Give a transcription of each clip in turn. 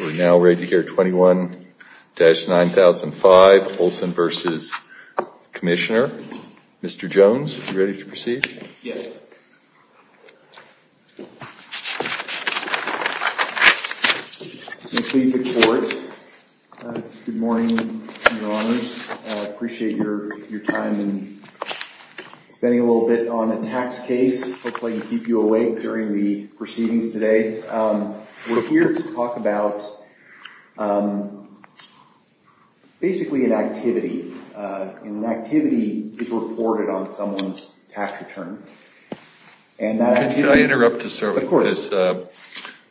We're now ready to hear 21-9005, Olsen v. Commissioner. Mr. Jones, are you ready to proceed? Yes. Please report. Good morning, Your Honors. I appreciate your time and spending a little bit on a tax case, hopefully to keep you awake during the proceedings today. We're here to talk about, basically, an activity. An activity is reported on someone's tax return. Could I interrupt to start with this? Of course.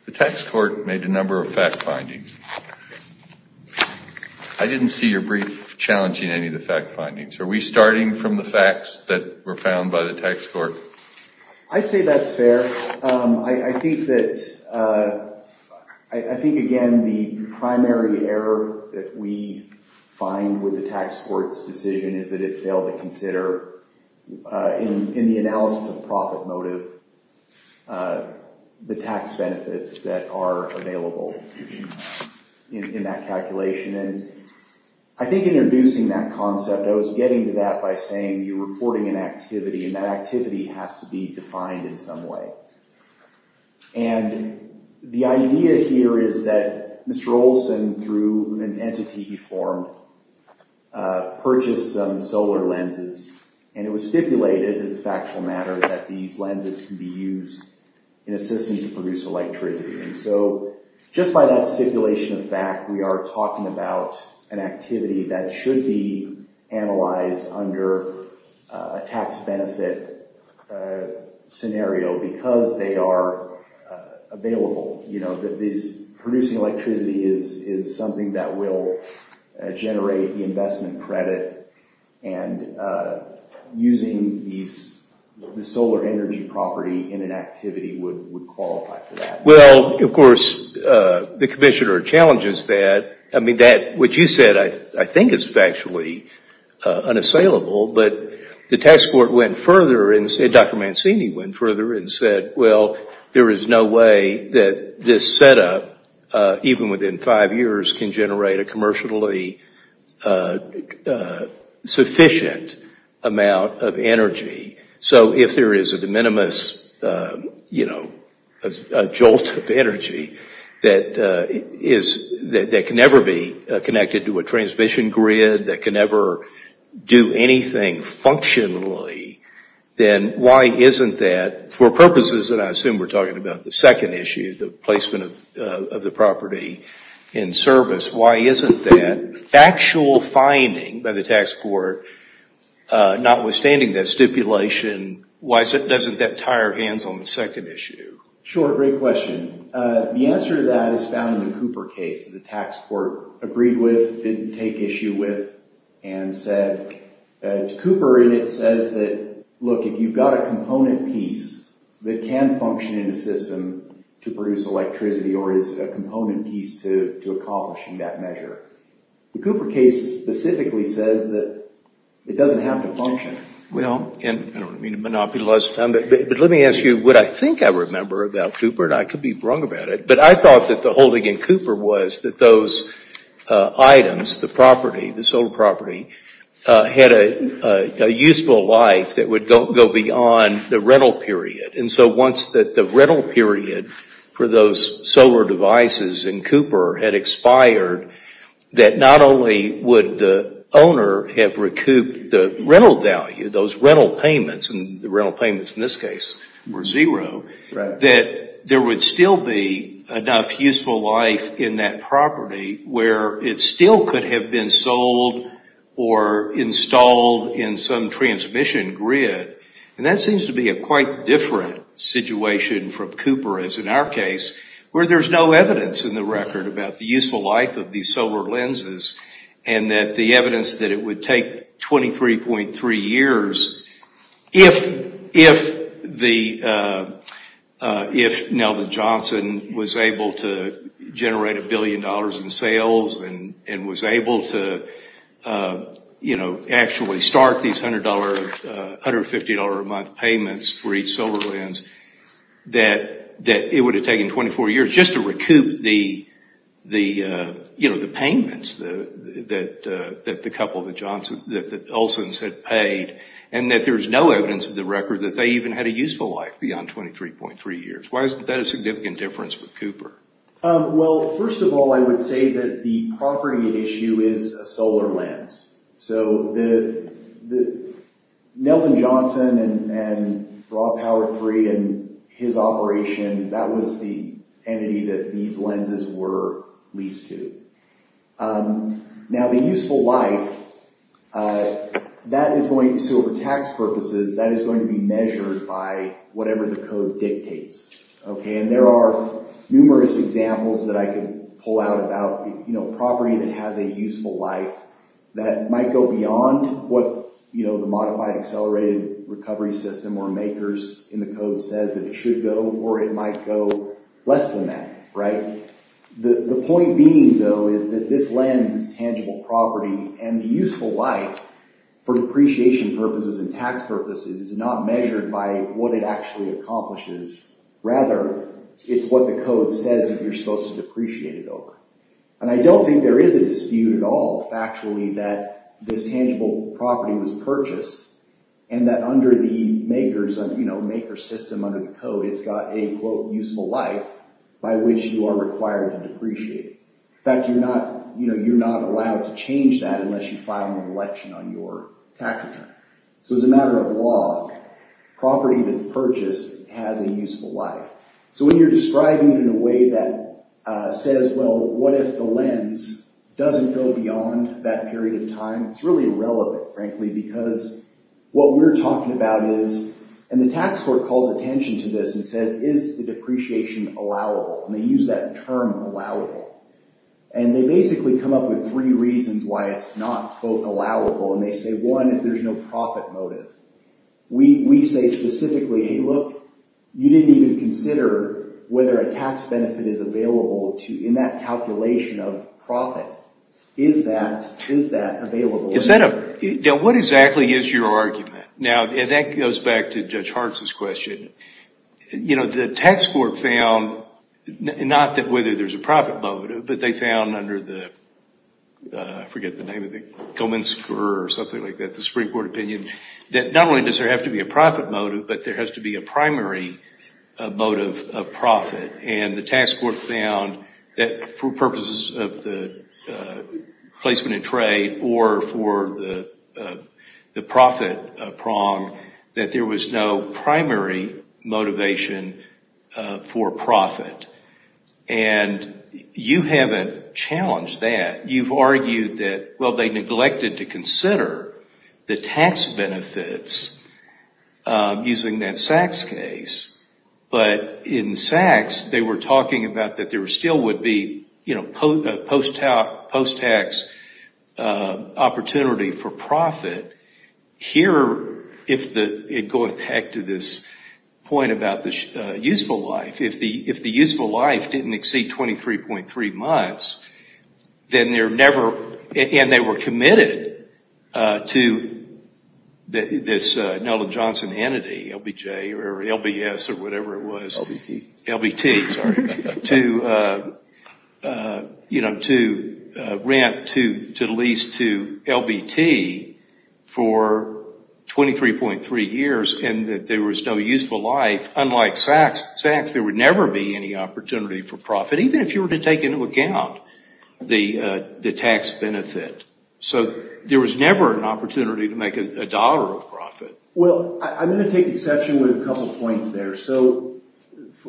The tax court made a number of fact findings. I didn't see your brief challenging any of the fact findings. Are we starting from the facts that were found by the tax court? I'd say that's fair. I think, again, the primary error that we find with the tax court's decision is that it failed to consider, in the analysis of profit motive, the tax benefits that are available in that calculation. I think introducing that concept, I was getting to that by saying you're reporting an activity, and that activity has to be defined in some way. And the idea here is that Mr. Olson, through an entity he formed, purchased some solar lenses, and it was stipulated, as a factual matter, that these lenses can be used in a system to produce electricity. And so just by that stipulation of fact, we are talking about an activity that should be analyzed under a tax benefit scenario because they are available. Producing electricity is something that will generate the investment credit, and using the solar energy property in an activity would qualify for that. Well, of course, the commissioner challenges that. I mean, what you said I think is factually unassailable, but the tax court went further, and Dr. Mancini went further and said, well, there is no way that this setup, even within five years, can generate a commercially sufficient amount of energy. So if there is a de minimis, a jolt of energy that can never be connected to a transmission grid, that can never do anything functionally, then why isn't that, for purposes that I assume we're talking about, the second issue, the placement of the property in service, why isn't that factual finding by the tax court, notwithstanding that stipulation, why doesn't that tie our hands on the second issue? Sure, great question. The answer to that is found in the Cooper case. The tax court agreed with, didn't take issue with, and said to Cooper, and it says that, look, if you've got a component piece that can function in a system to produce electricity or is a component piece to accomplishing that measure, the Cooper case specifically says that it doesn't have to function. Well, and I don't mean to monopolize time, but let me ask you what I think I remember about Cooper, and I could be wrong about it, but I thought that the holding in Cooper was that those items, the property, the solar property, had a useful life that would go beyond the rental period. And so once the rental period for those solar devices in Cooper had expired, that not only would the owner have recouped the rental value, those rental payments, and the rental payments in this case were zero, that there would still be enough useful life in that property where it still could have been sold or installed in some transmission grid. And that seems to be a quite different situation from Cooper, as in our case, where there's no evidence in the record about the useful life of these solar lenses and that the evidence that it would take 23.3 years, if Neldon Johnson was able to generate a billion dollars in sales and was able to, you know, actually start these $100, $150 a month payments for each solar lens, that it would have taken 24 years just to recoup the, you know, the payments that the couple, that the Olsons had paid, and that there's no evidence in the record that they even had a useful life beyond 23.3 years. Why is that a significant difference with Cooper? Well, first of all, I would say that the property issue is a solar lens. So, Neldon Johnson and Raw Power III and his operation, that was the entity that these lenses were leased to. Now, the useful life, that is going to, so for tax purposes, that is going to be measured by whatever the code dictates. Okay, and there are numerous examples that I could pull out about, you know, whether or not it has a useful life that might go beyond what, you know, the modified accelerated recovery system or makers in the code says that it should go, or it might go less than that, right? The point being, though, is that this lens is tangible property, and the useful life for depreciation purposes and tax purposes is not measured by what it actually accomplishes. Rather, it's what the code says that you're supposed to depreciate it over. And I don't think there is a dispute at all, factually, that this tangible property was purchased, and that under the makers, you know, maker system under the code, it's got a, quote, useful life by which you are required to depreciate it. In fact, you're not, you know, you're not allowed to change that unless you file an election on your tax return. So, as a matter of law, property that's purchased has a useful life. So, when you're describing it in a way that says, well, what if the lens doesn't go beyond that period of time? It's really irrelevant, frankly, because what we're talking about is, and the tax court calls attention to this and says, is the depreciation allowable? And they use that term allowable. And they basically come up with three reasons why it's not, quote, allowable. And they say, one, there's no profit motive. We say specifically, hey, look, you didn't even consider whether a tax benefit is available in that calculation of profit. Is that available? Now, what exactly is your argument? Now, that goes back to Judge Hartz's question. You know, the tax court found, not that whether there's a profit motive, but they found under the, I forget the name of it, or something like that, the Supreme Court opinion, that not only does there have to be a profit motive, but there has to be a primary motive of profit. And the tax court found that for purposes of the placement in trade or for the profit prong, that there was no primary motivation for profit. And you haven't challenged that. You've argued that, well, they neglected to consider the tax benefits using that Sachs case. But in Sachs, they were talking about that there still would be, you know, post-tax opportunity for profit. Here, if it goes back to this point about the useful life, if the useful life didn't exceed 23.3 months, then they're never, and they were committed to this Neldon Johnson entity, LBJ or LBS or whatever it was. LBT. LBT, sorry. To, you know, to rent to lease to LBT for 23.3 years and that there was no useful life. Unlike Sachs, there would never be any opportunity for profit, even if you were to take into account the tax benefit. So there was never an opportunity to make a dollar of profit. Well, I'm going to take exception with a couple points there. So,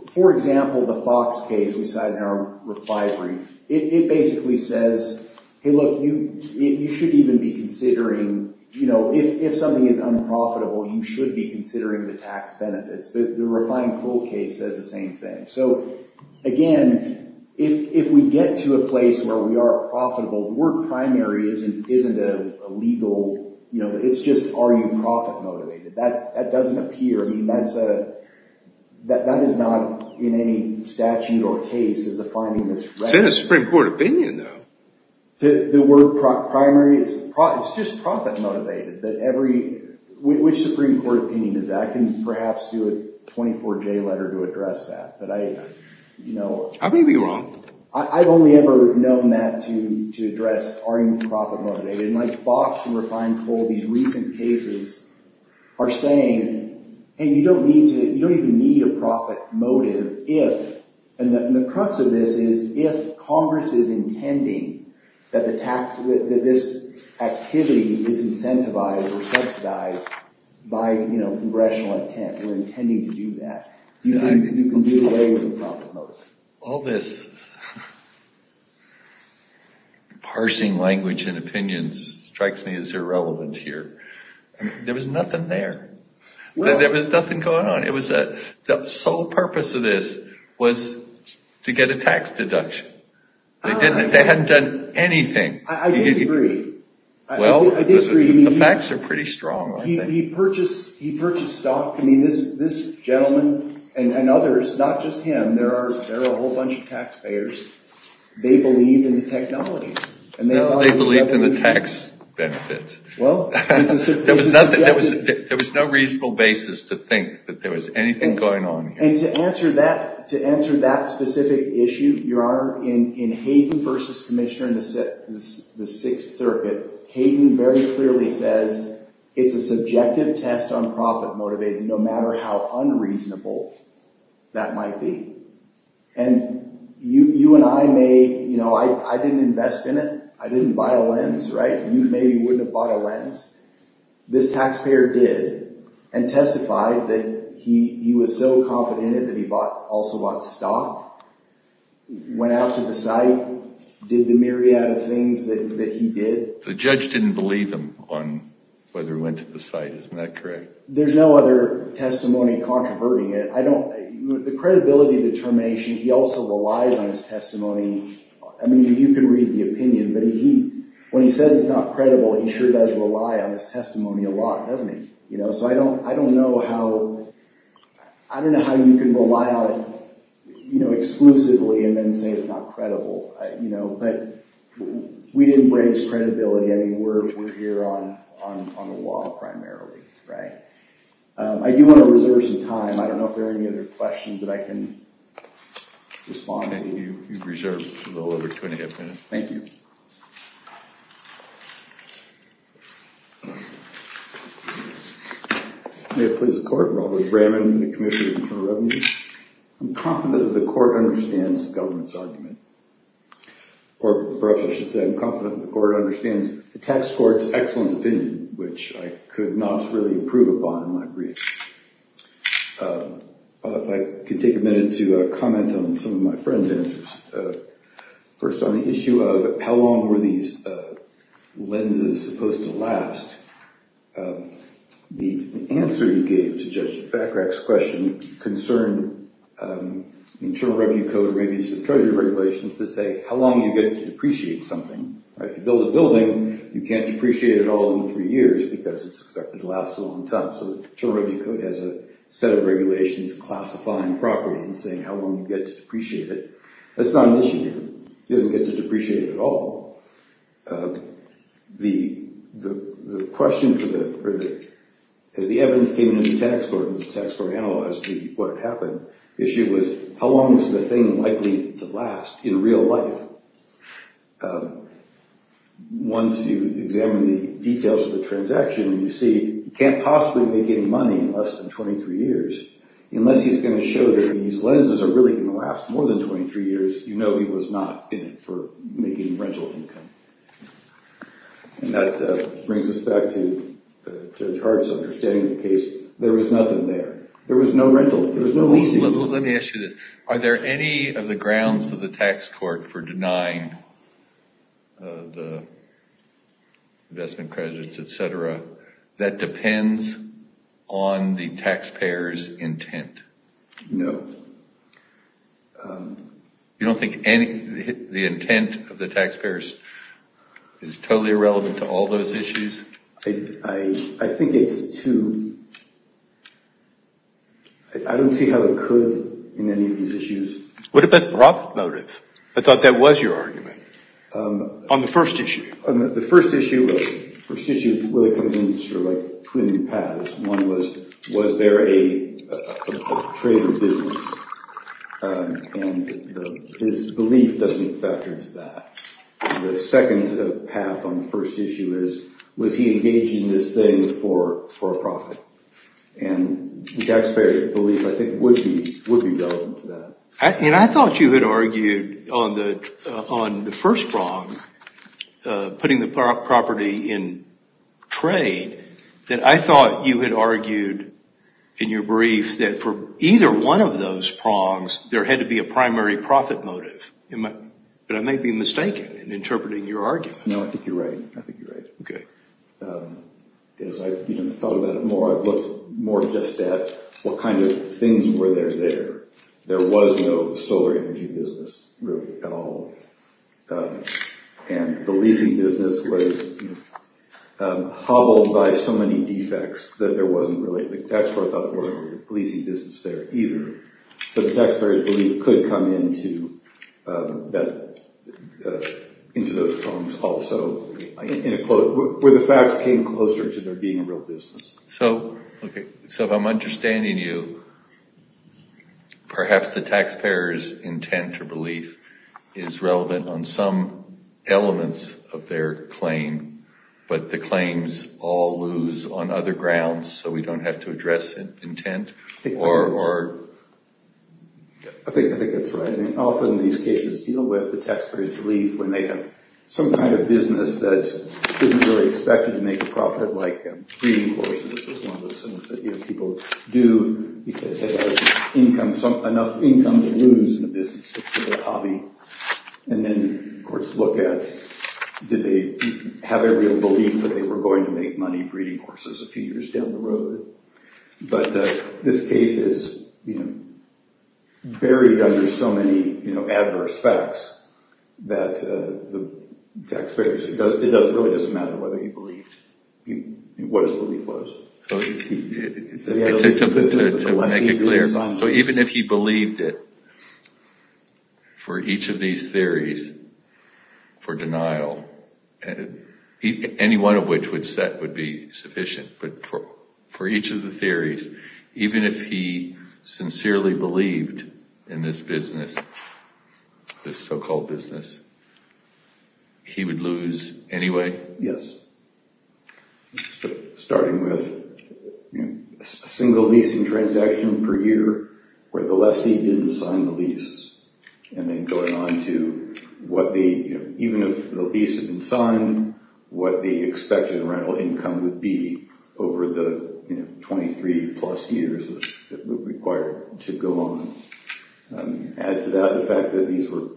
for example, the Fox case we cited in our reply brief, it basically says, hey, look, you should even be considering, you know, if something is unprofitable, you should be considering the tax benefits. The refined pool case says the same thing. So, again, if we get to a place where we are profitable, the word primary isn't a legal, you know, it's just are you profit-motivated. That doesn't appear. I mean, that is not in any statute or case as a finding that's right. It's in the Supreme Court opinion, though. The word primary, it's just profit-motivated. Which Supreme Court opinion is that? I can perhaps do a 24-J letter to address that. I may be wrong. I've only ever known that to address are you profit-motivated. And like Fox and refined pool, these recent cases are saying, hey, you don't even need a profit motive if, and the crux of this is if Congress is intending that this activity is incentivized or subsidized by, you know, congressional intent. We're intending to do that. You can get away with a profit motive. All this parsing language and opinions strikes me as irrelevant here. There was nothing there. There was nothing going on. The sole purpose of this was to get a tax deduction. They hadn't done anything. I disagree. Well, the facts are pretty strong. He purchased stock. I mean, this gentleman and others, not just him, there are a whole bunch of taxpayers, they believe in the technology. They believed in the tax benefits. There was no reasonable basis to think that there was anything going on here. And to answer that specific issue, Your Honor, in Hayden versus Commissioner in the Sixth Circuit, Hayden very clearly says it's a subjective test on profit motivated, no matter how unreasonable that might be. And you and I may, you know, I didn't invest in it. I didn't buy a lens, right? You maybe wouldn't have bought a lens. This taxpayer did and testified that he was so confident in it that he also bought stock, went out to the site, did the myriad of things that he did. The judge didn't believe him on whether he went to the site. Isn't that correct? There's no other testimony controverting it. The credibility determination, he also relies on his testimony. I mean, you can read the opinion, but when he says it's not credible, he sure does rely on his testimony a lot, doesn't he? So I don't know how you can rely on it exclusively and then say it's not credible. But we didn't raise credibility. I mean, we're here on the law primarily, right? I do want to reserve some time. I don't know if there are any other questions that I can respond to. You've reserved a little over 20 minutes. Thank you. May it please the Court. Robert Bramman with the Commission for Internal Revenue. I'm confident that the Court understands the government's argument, or perhaps I should say I'm confident that the Court understands the tax court's excellent opinion, which I could not really improve upon in my brief. If I could take a minute to comment on some of my friend's answers. First on the issue of how long were these lenses supposed to last, the answer you gave to Judge Bachrach's question concerned the Internal Revenue Code and maybe some Treasury regulations that say how long you get to depreciate something. If you build a building, you can't depreciate it all in three years because it's expected to last a long time. So the Internal Revenue Code has a set of regulations classifying property and saying how long you get to depreciate it. That's not an issue here. He doesn't get to depreciate it all. As the evidence came into the tax court, and the tax court analyzed what had happened, the issue was how long is the thing likely to last in real life. Once you examine the details of the transaction, you see you can't possibly make any money in less than 23 years unless he's going to show that these lenses are really going to last more than 23 years. You know he was not in it for making rental income. That brings us back to Judge Hart's understanding of the case. There was nothing there. There was no rental. There was no leasing. Let me ask you this. Are there any of the grounds of the tax court for denying the investment credits, et cetera, that depends on the taxpayer's intent? No. You don't think the intent of the taxpayers is totally irrelevant to all those issues? I think it's too... I don't see how it could in any of these issues. What about the profit motive? I thought that was your argument. On the first issue. The first issue really comes in between paths. One was, was there a trade in business? And his belief doesn't factor into that. The second path on the first issue is, was he engaging this thing for a profit? And the taxpayer's belief, I think, would be relevant to that. I thought you had argued on the first prong, putting the property in trade, that I thought you had argued in your brief that for either one of those prongs, there had to be a primary profit motive. But I may be mistaken in interpreting your argument. No, I think you're right. I think you're right. Okay. As I've thought about it more, I've looked more just at what kind of things were there there. There was no solar energy business, really, at all. And the leasing business was hobbled by so many defects that there wasn't really, the tax court thought there wasn't a leasing business there either. But the taxpayer's belief could come into those prongs also, where the facts came closer to there being a real business. So if I'm understanding you, perhaps the taxpayer's intent or belief is relevant on some elements of their claim, but the claims all lose on other grounds, so we don't have to address intent or... I think that's right. I mean, often these cases deal with the taxpayer's belief when they have some kind of business that isn't really expected to make a profit, like breeding horses, which is one of those things that people do because they have enough income to lose in a business. It's just a hobby. And then courts look at, did they have a real belief that they were going to make money breeding horses a few years down the road? But this case is buried under so many adverse facts that the taxpayer, it really doesn't matter whether he believed, what his belief was. To make it clear, so even if he believed it, for each of these theories, for denial, any one of which would be sufficient, but for each of the theories, even if he sincerely believed in this business, this so-called business, he would lose anyway? Yes. Starting with a single leasing transaction per year where the lessee didn't sign the lease and then going on to what the, even if the lease had been signed, what the expected rental income would be over the 23 plus years that were required to go on. Add to that the fact that these were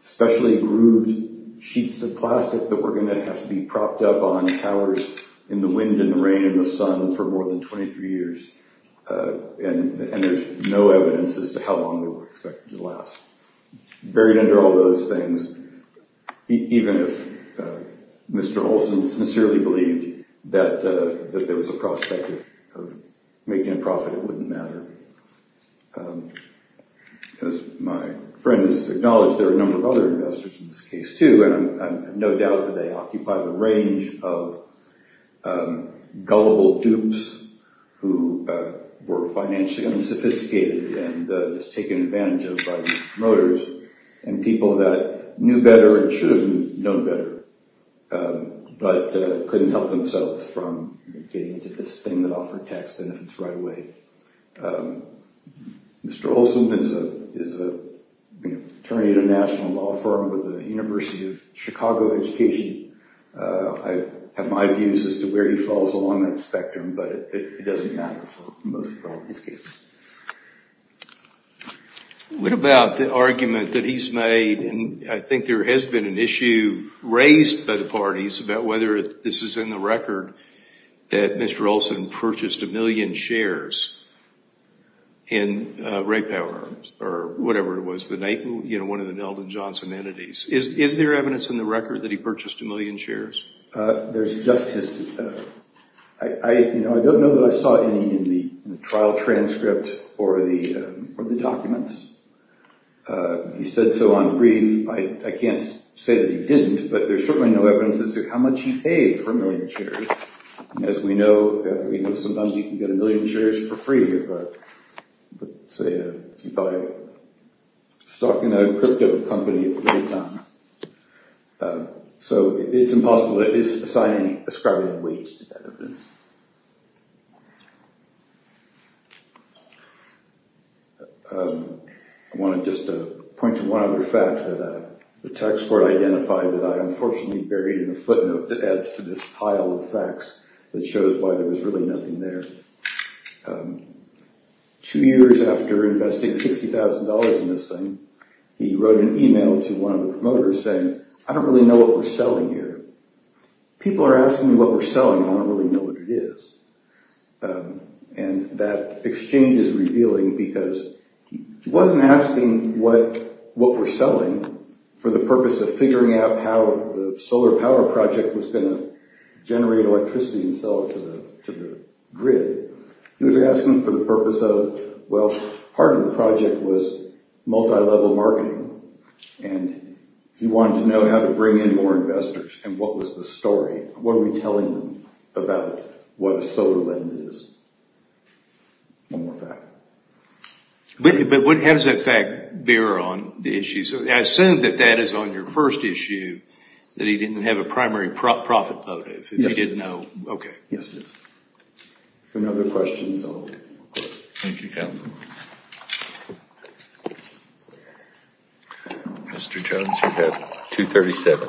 specially grooved sheets of plastic that were going to have to be propped up on towers in the wind and the rain and the sun for more than 23 years. And there's no evidence as to how long they were expected to last. Buried under all those things, even if Mr. Olson sincerely believed that there was a prospect of making a profit, it wouldn't matter. As my friend has acknowledged, there are a number of other investors in this case too, and I have no doubt that they occupy the range of gullible dupes who were financially unsophisticated and just taken advantage of by the promoters and people that knew better and should have known better, but couldn't help themselves from getting into this thing that offered tax benefits right away. Mr. Olson is an attorney at a national law firm with the University of Chicago education. I have my views as to where he falls along that spectrum, but it doesn't matter for most of these cases. What about the argument that he's made, and I think there has been an issue raised by the parties about whether this is in the record, that Mr. Olson purchased a million shares in Ray Power or whatever it was, one of the Neldon Johnson entities. Is there evidence in the record that he purchased a million shares? I don't know that I saw any in the trial transcript or the documents. He said so on brief. I can't say that he didn't, but there's certainly no evidence as to how much he paid for a million shares. And as we know, sometimes you can get a million shares for free if you buy stock in a crypto company at the right time. So it's impossible that he's assigning ascribing weight to that evidence. I want to just point to one other fact that the tax court identified that I unfortunately buried in a footnote that adds to this pile of facts that shows why there was really nothing there. Two years after investing $60,000 in this thing, he wrote an email to one of the promoters saying, I don't really know what we're selling here. People are asking me what we're selling, and I don't really know what it is. And that exchange is revealing because he wasn't asking what we're selling for the purpose of figuring out how the solar power project was going to generate electricity and sell it to the grid. He was asking for the purpose of, well, part of the project was multi-level marketing, and he wanted to know how to bring in more investors and what was the story. What are we telling them about what a solar lens is? One more fact. But what has that fact bear on the issue? So I assume that that is on your first issue, that he didn't have a primary profit motive. Yes, sir. He didn't know. Okay. Yes, sir. Any other questions? Thank you, counsel. Mr. Jones, you have 237.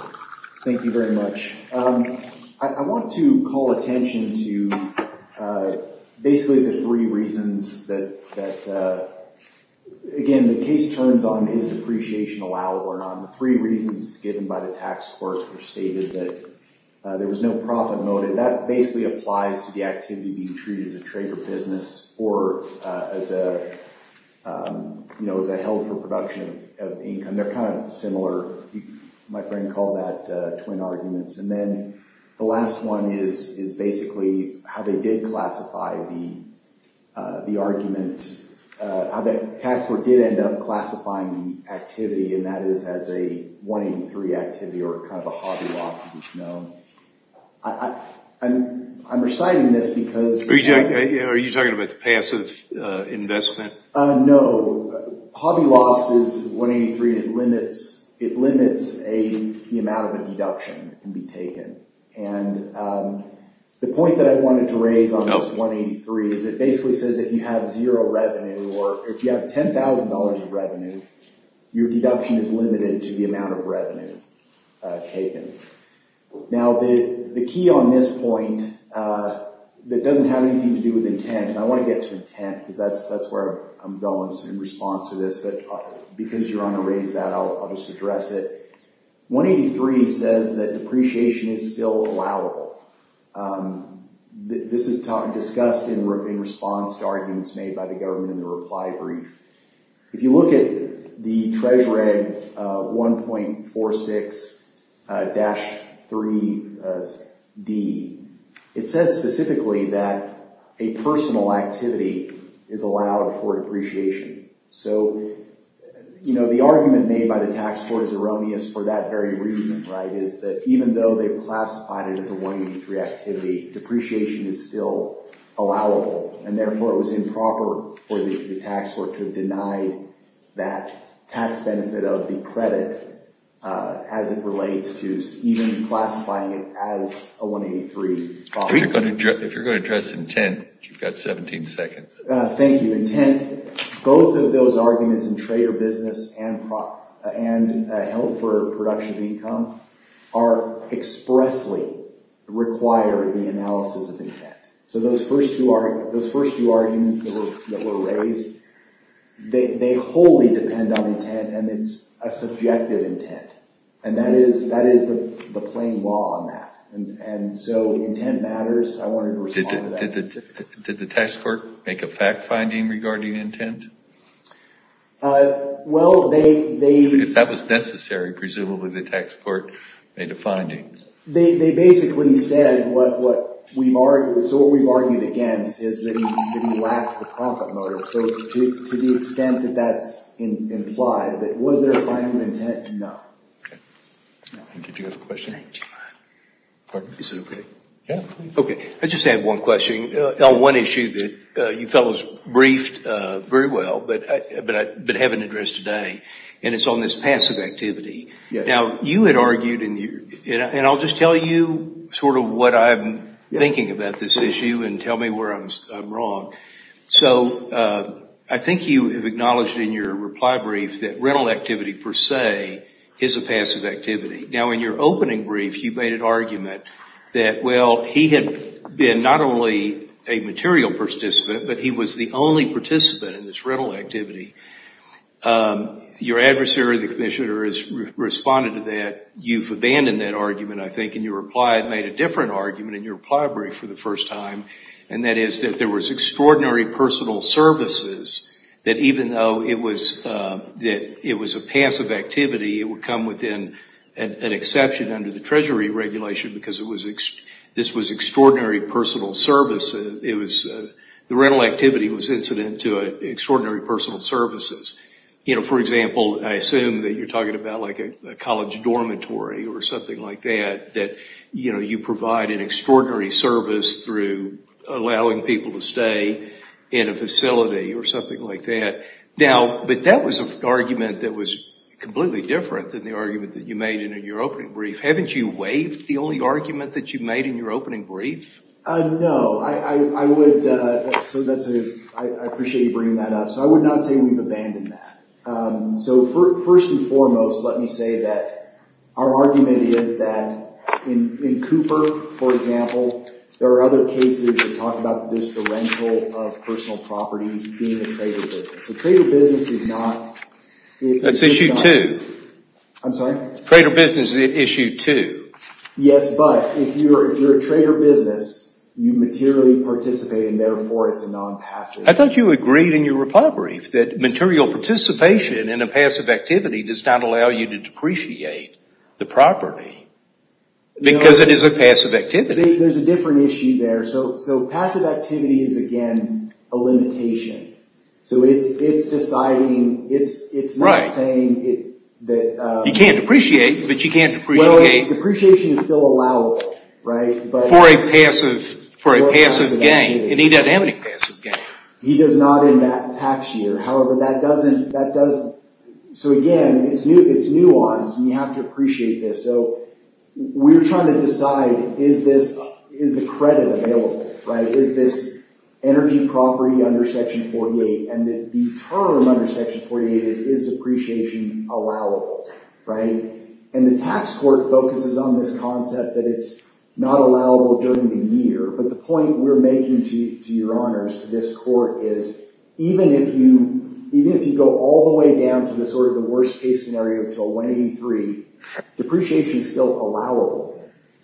Thank you very much. I want to call attention to basically the three reasons that, again, the case turns on is depreciation allowable or not. The three reasons given by the tax court are stated that there was no profit motive. That basically applies to the activity being treated as a trade or business or as a health or production of income. They're kind of similar. My friend called that twin arguments. And then the last one is basically how they did classify the argument, how the tax court did end up classifying the activity, and that is as a 183 activity or kind of a hobby loss as it's known. I'm reciting this because... Are you talking about the passive investment? No. Hobby loss is 183. It limits the amount of a deduction that can be taken. And the point that I wanted to raise on this 183 is it basically says if you have zero revenue or if you have $10,000 of revenue, your deduction is limited to the amount of revenue taken. Now, the key on this point that doesn't have anything to do with intent, and I want to get to intent because that's where I'm going in response to this, but because you're on a raise, I'll just address it. 183 says that depreciation is still allowable. This is discussed in response to arguments made by the government in the reply brief. If you look at the Treasury 1.46-3D, it says specifically that a personal activity is allowed for depreciation. So, you know, the argument made by the tax court was erroneous for that very reason, right, is that even though they classified it as a 183 activity, depreciation is still allowable, and therefore it was improper for the tax court to deny that tax benefit of the credit as it relates to even classifying it as a 183. If you're going to address intent, you've got 17 seconds. Thank you. Intent, both of those arguments in trade or business and held for production of income are expressly required in the analysis of intent. So those first two arguments that were raised, they wholly depend on intent, and it's a subjective intent, and that is the plain law on that, and so intent matters. I wanted to respond to that specifically. Did the tax court make a fact-finding regarding intent? Well, they... If that was necessary, presumably, the tax court made a finding. They basically said what we've argued against is that he lacked the profit motive, so to the extent that that's implied, that was there a finding of intent? No. Okay. Did you have a question? Is it okay? Yeah. Okay, I just have one question. One issue that you fellows briefed very well but haven't addressed today, and it's on this passive activity. Now, you had argued, and I'll just tell you sort of what I'm thinking about this issue and tell me where I'm wrong. So I think you have acknowledged in your reply brief that rental activity per se is a passive activity. Now, in your opening brief, you made an argument that, well, he had been not only a material participant, but he was the only participant in this rental activity. Your adversary, the commissioner, has responded to that. You've abandoned that argument, I think, and your reply made a different argument in your reply brief for the first time, and that is that there was extraordinary personal services that even though it was a passive activity, it would come within an exception under the Treasury regulation because this was extraordinary personal services. The rental activity was incident to extraordinary personal services. For example, I assume that you're talking about like a college dormitory or something like that, that you provide an extraordinary service through allowing people to stay in a facility or something like that. But that was an argument that was completely different than the argument that you made in your opening brief Haven't you waived the only argument that you made in your opening brief? No, I would... I appreciate you bringing that up. So I would not say we've abandoned that. So first and foremost, let me say that our argument is that in Cooper, for example, there are other cases that talk about just the rental of personal property being a trader business. A trader business is not... That's issue two. I'm sorry? Trader business is issue two. Yes, but if you're a trader business, you materially participate and therefore it's a non-passive... I thought you agreed in your reply brief that material participation in a passive activity does not allow you to depreciate the property because it is a passive activity. There's a different issue there. So passive activity is, again, a limitation. So it's deciding... It's not saying that... You can't depreciate, but you can't depreciate... Well, depreciation is still allowable, right? For a passive gain, and he doesn't have any passive gain. He does not in that tax year. However, that doesn't... So again, it's nuanced, and you have to appreciate this. So we're trying to decide, is the credit available? Is this energy property under Section 48? And the term under Section 48 is, is depreciation allowable, right? And the tax court focuses on this concept that it's not allowable during the year. But the point we're making to your honors, to this court, is even if you go all the way down to sort of the worst-case scenario, to 183, depreciation is still allowable.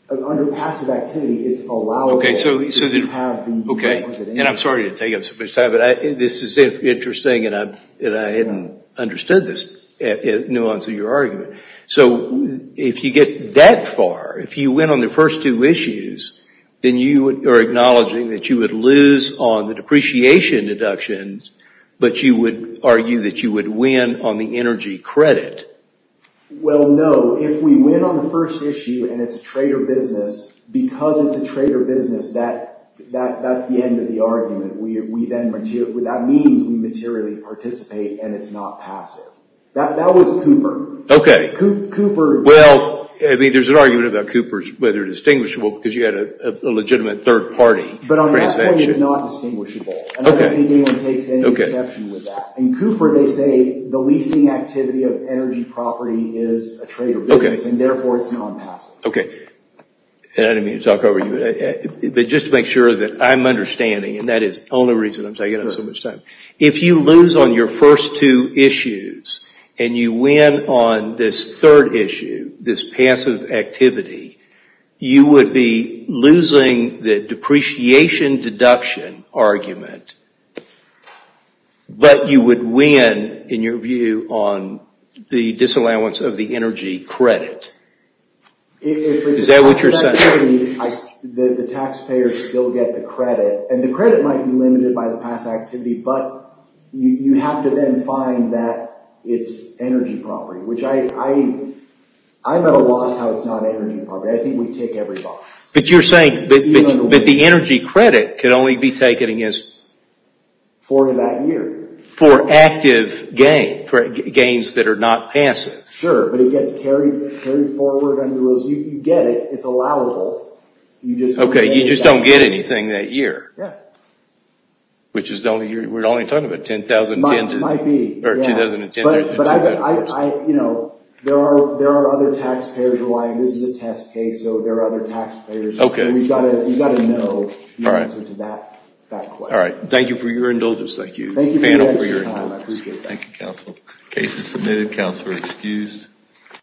Under passive activity, it's allowable... Okay, and I'm sorry to take up so much time, but this is interesting, and I hadn't understood this nuance of your argument. So if you get that far, if you win on the first two issues, then you are acknowledging that you would lose on the depreciation deductions, but you would argue that you would win on the energy credit. Well, no. If we win on the first issue, and it's a trader business, because it's a trader business, that's the end of the argument. That means we materially participate, and it's not passive. That was Cooper. Okay. Cooper... Well, I mean, there's an argument about Cooper, whether it's distinguishable, because you had a legitimate third-party transaction. But on that point, it's not distinguishable. Okay. I don't think anyone takes any exception with that. In Cooper, they say the leasing activity of energy property is a trader business, and therefore, it's non-passive. Okay. And I didn't mean to talk over you, but just to make sure that I'm understanding, and that is the only reason I'm taking up so much time. If you lose on your first two issues, and you win on this third issue, this passive activity, you would be losing the depreciation deduction argument, but you would win, in your view, on the disallowance of the energy credit. Is that what you're saying? The taxpayers still get the credit, and the credit might be limited by the past activity, but you have to then find that it's energy property, which I'm at a loss how it's not energy property. I think we take every box. But you're saying that the energy credit could only be taken against... For that year. For active gains that are not passive. Sure, but it gets carried forward under those. You get it. It's allowable. Okay, you just don't get anything that year. Yeah. Which is the only year. We're only talking about 2010. Might be. Or 2010. But there are other taxpayers who are like, this is a test case, so there are other taxpayers. Okay. So you've got to know the answer to that question. All right. Thank you for your indulgence. Thank you for your time. I appreciate that. Thank you, counsel. Case is submitted. Counsel is excused.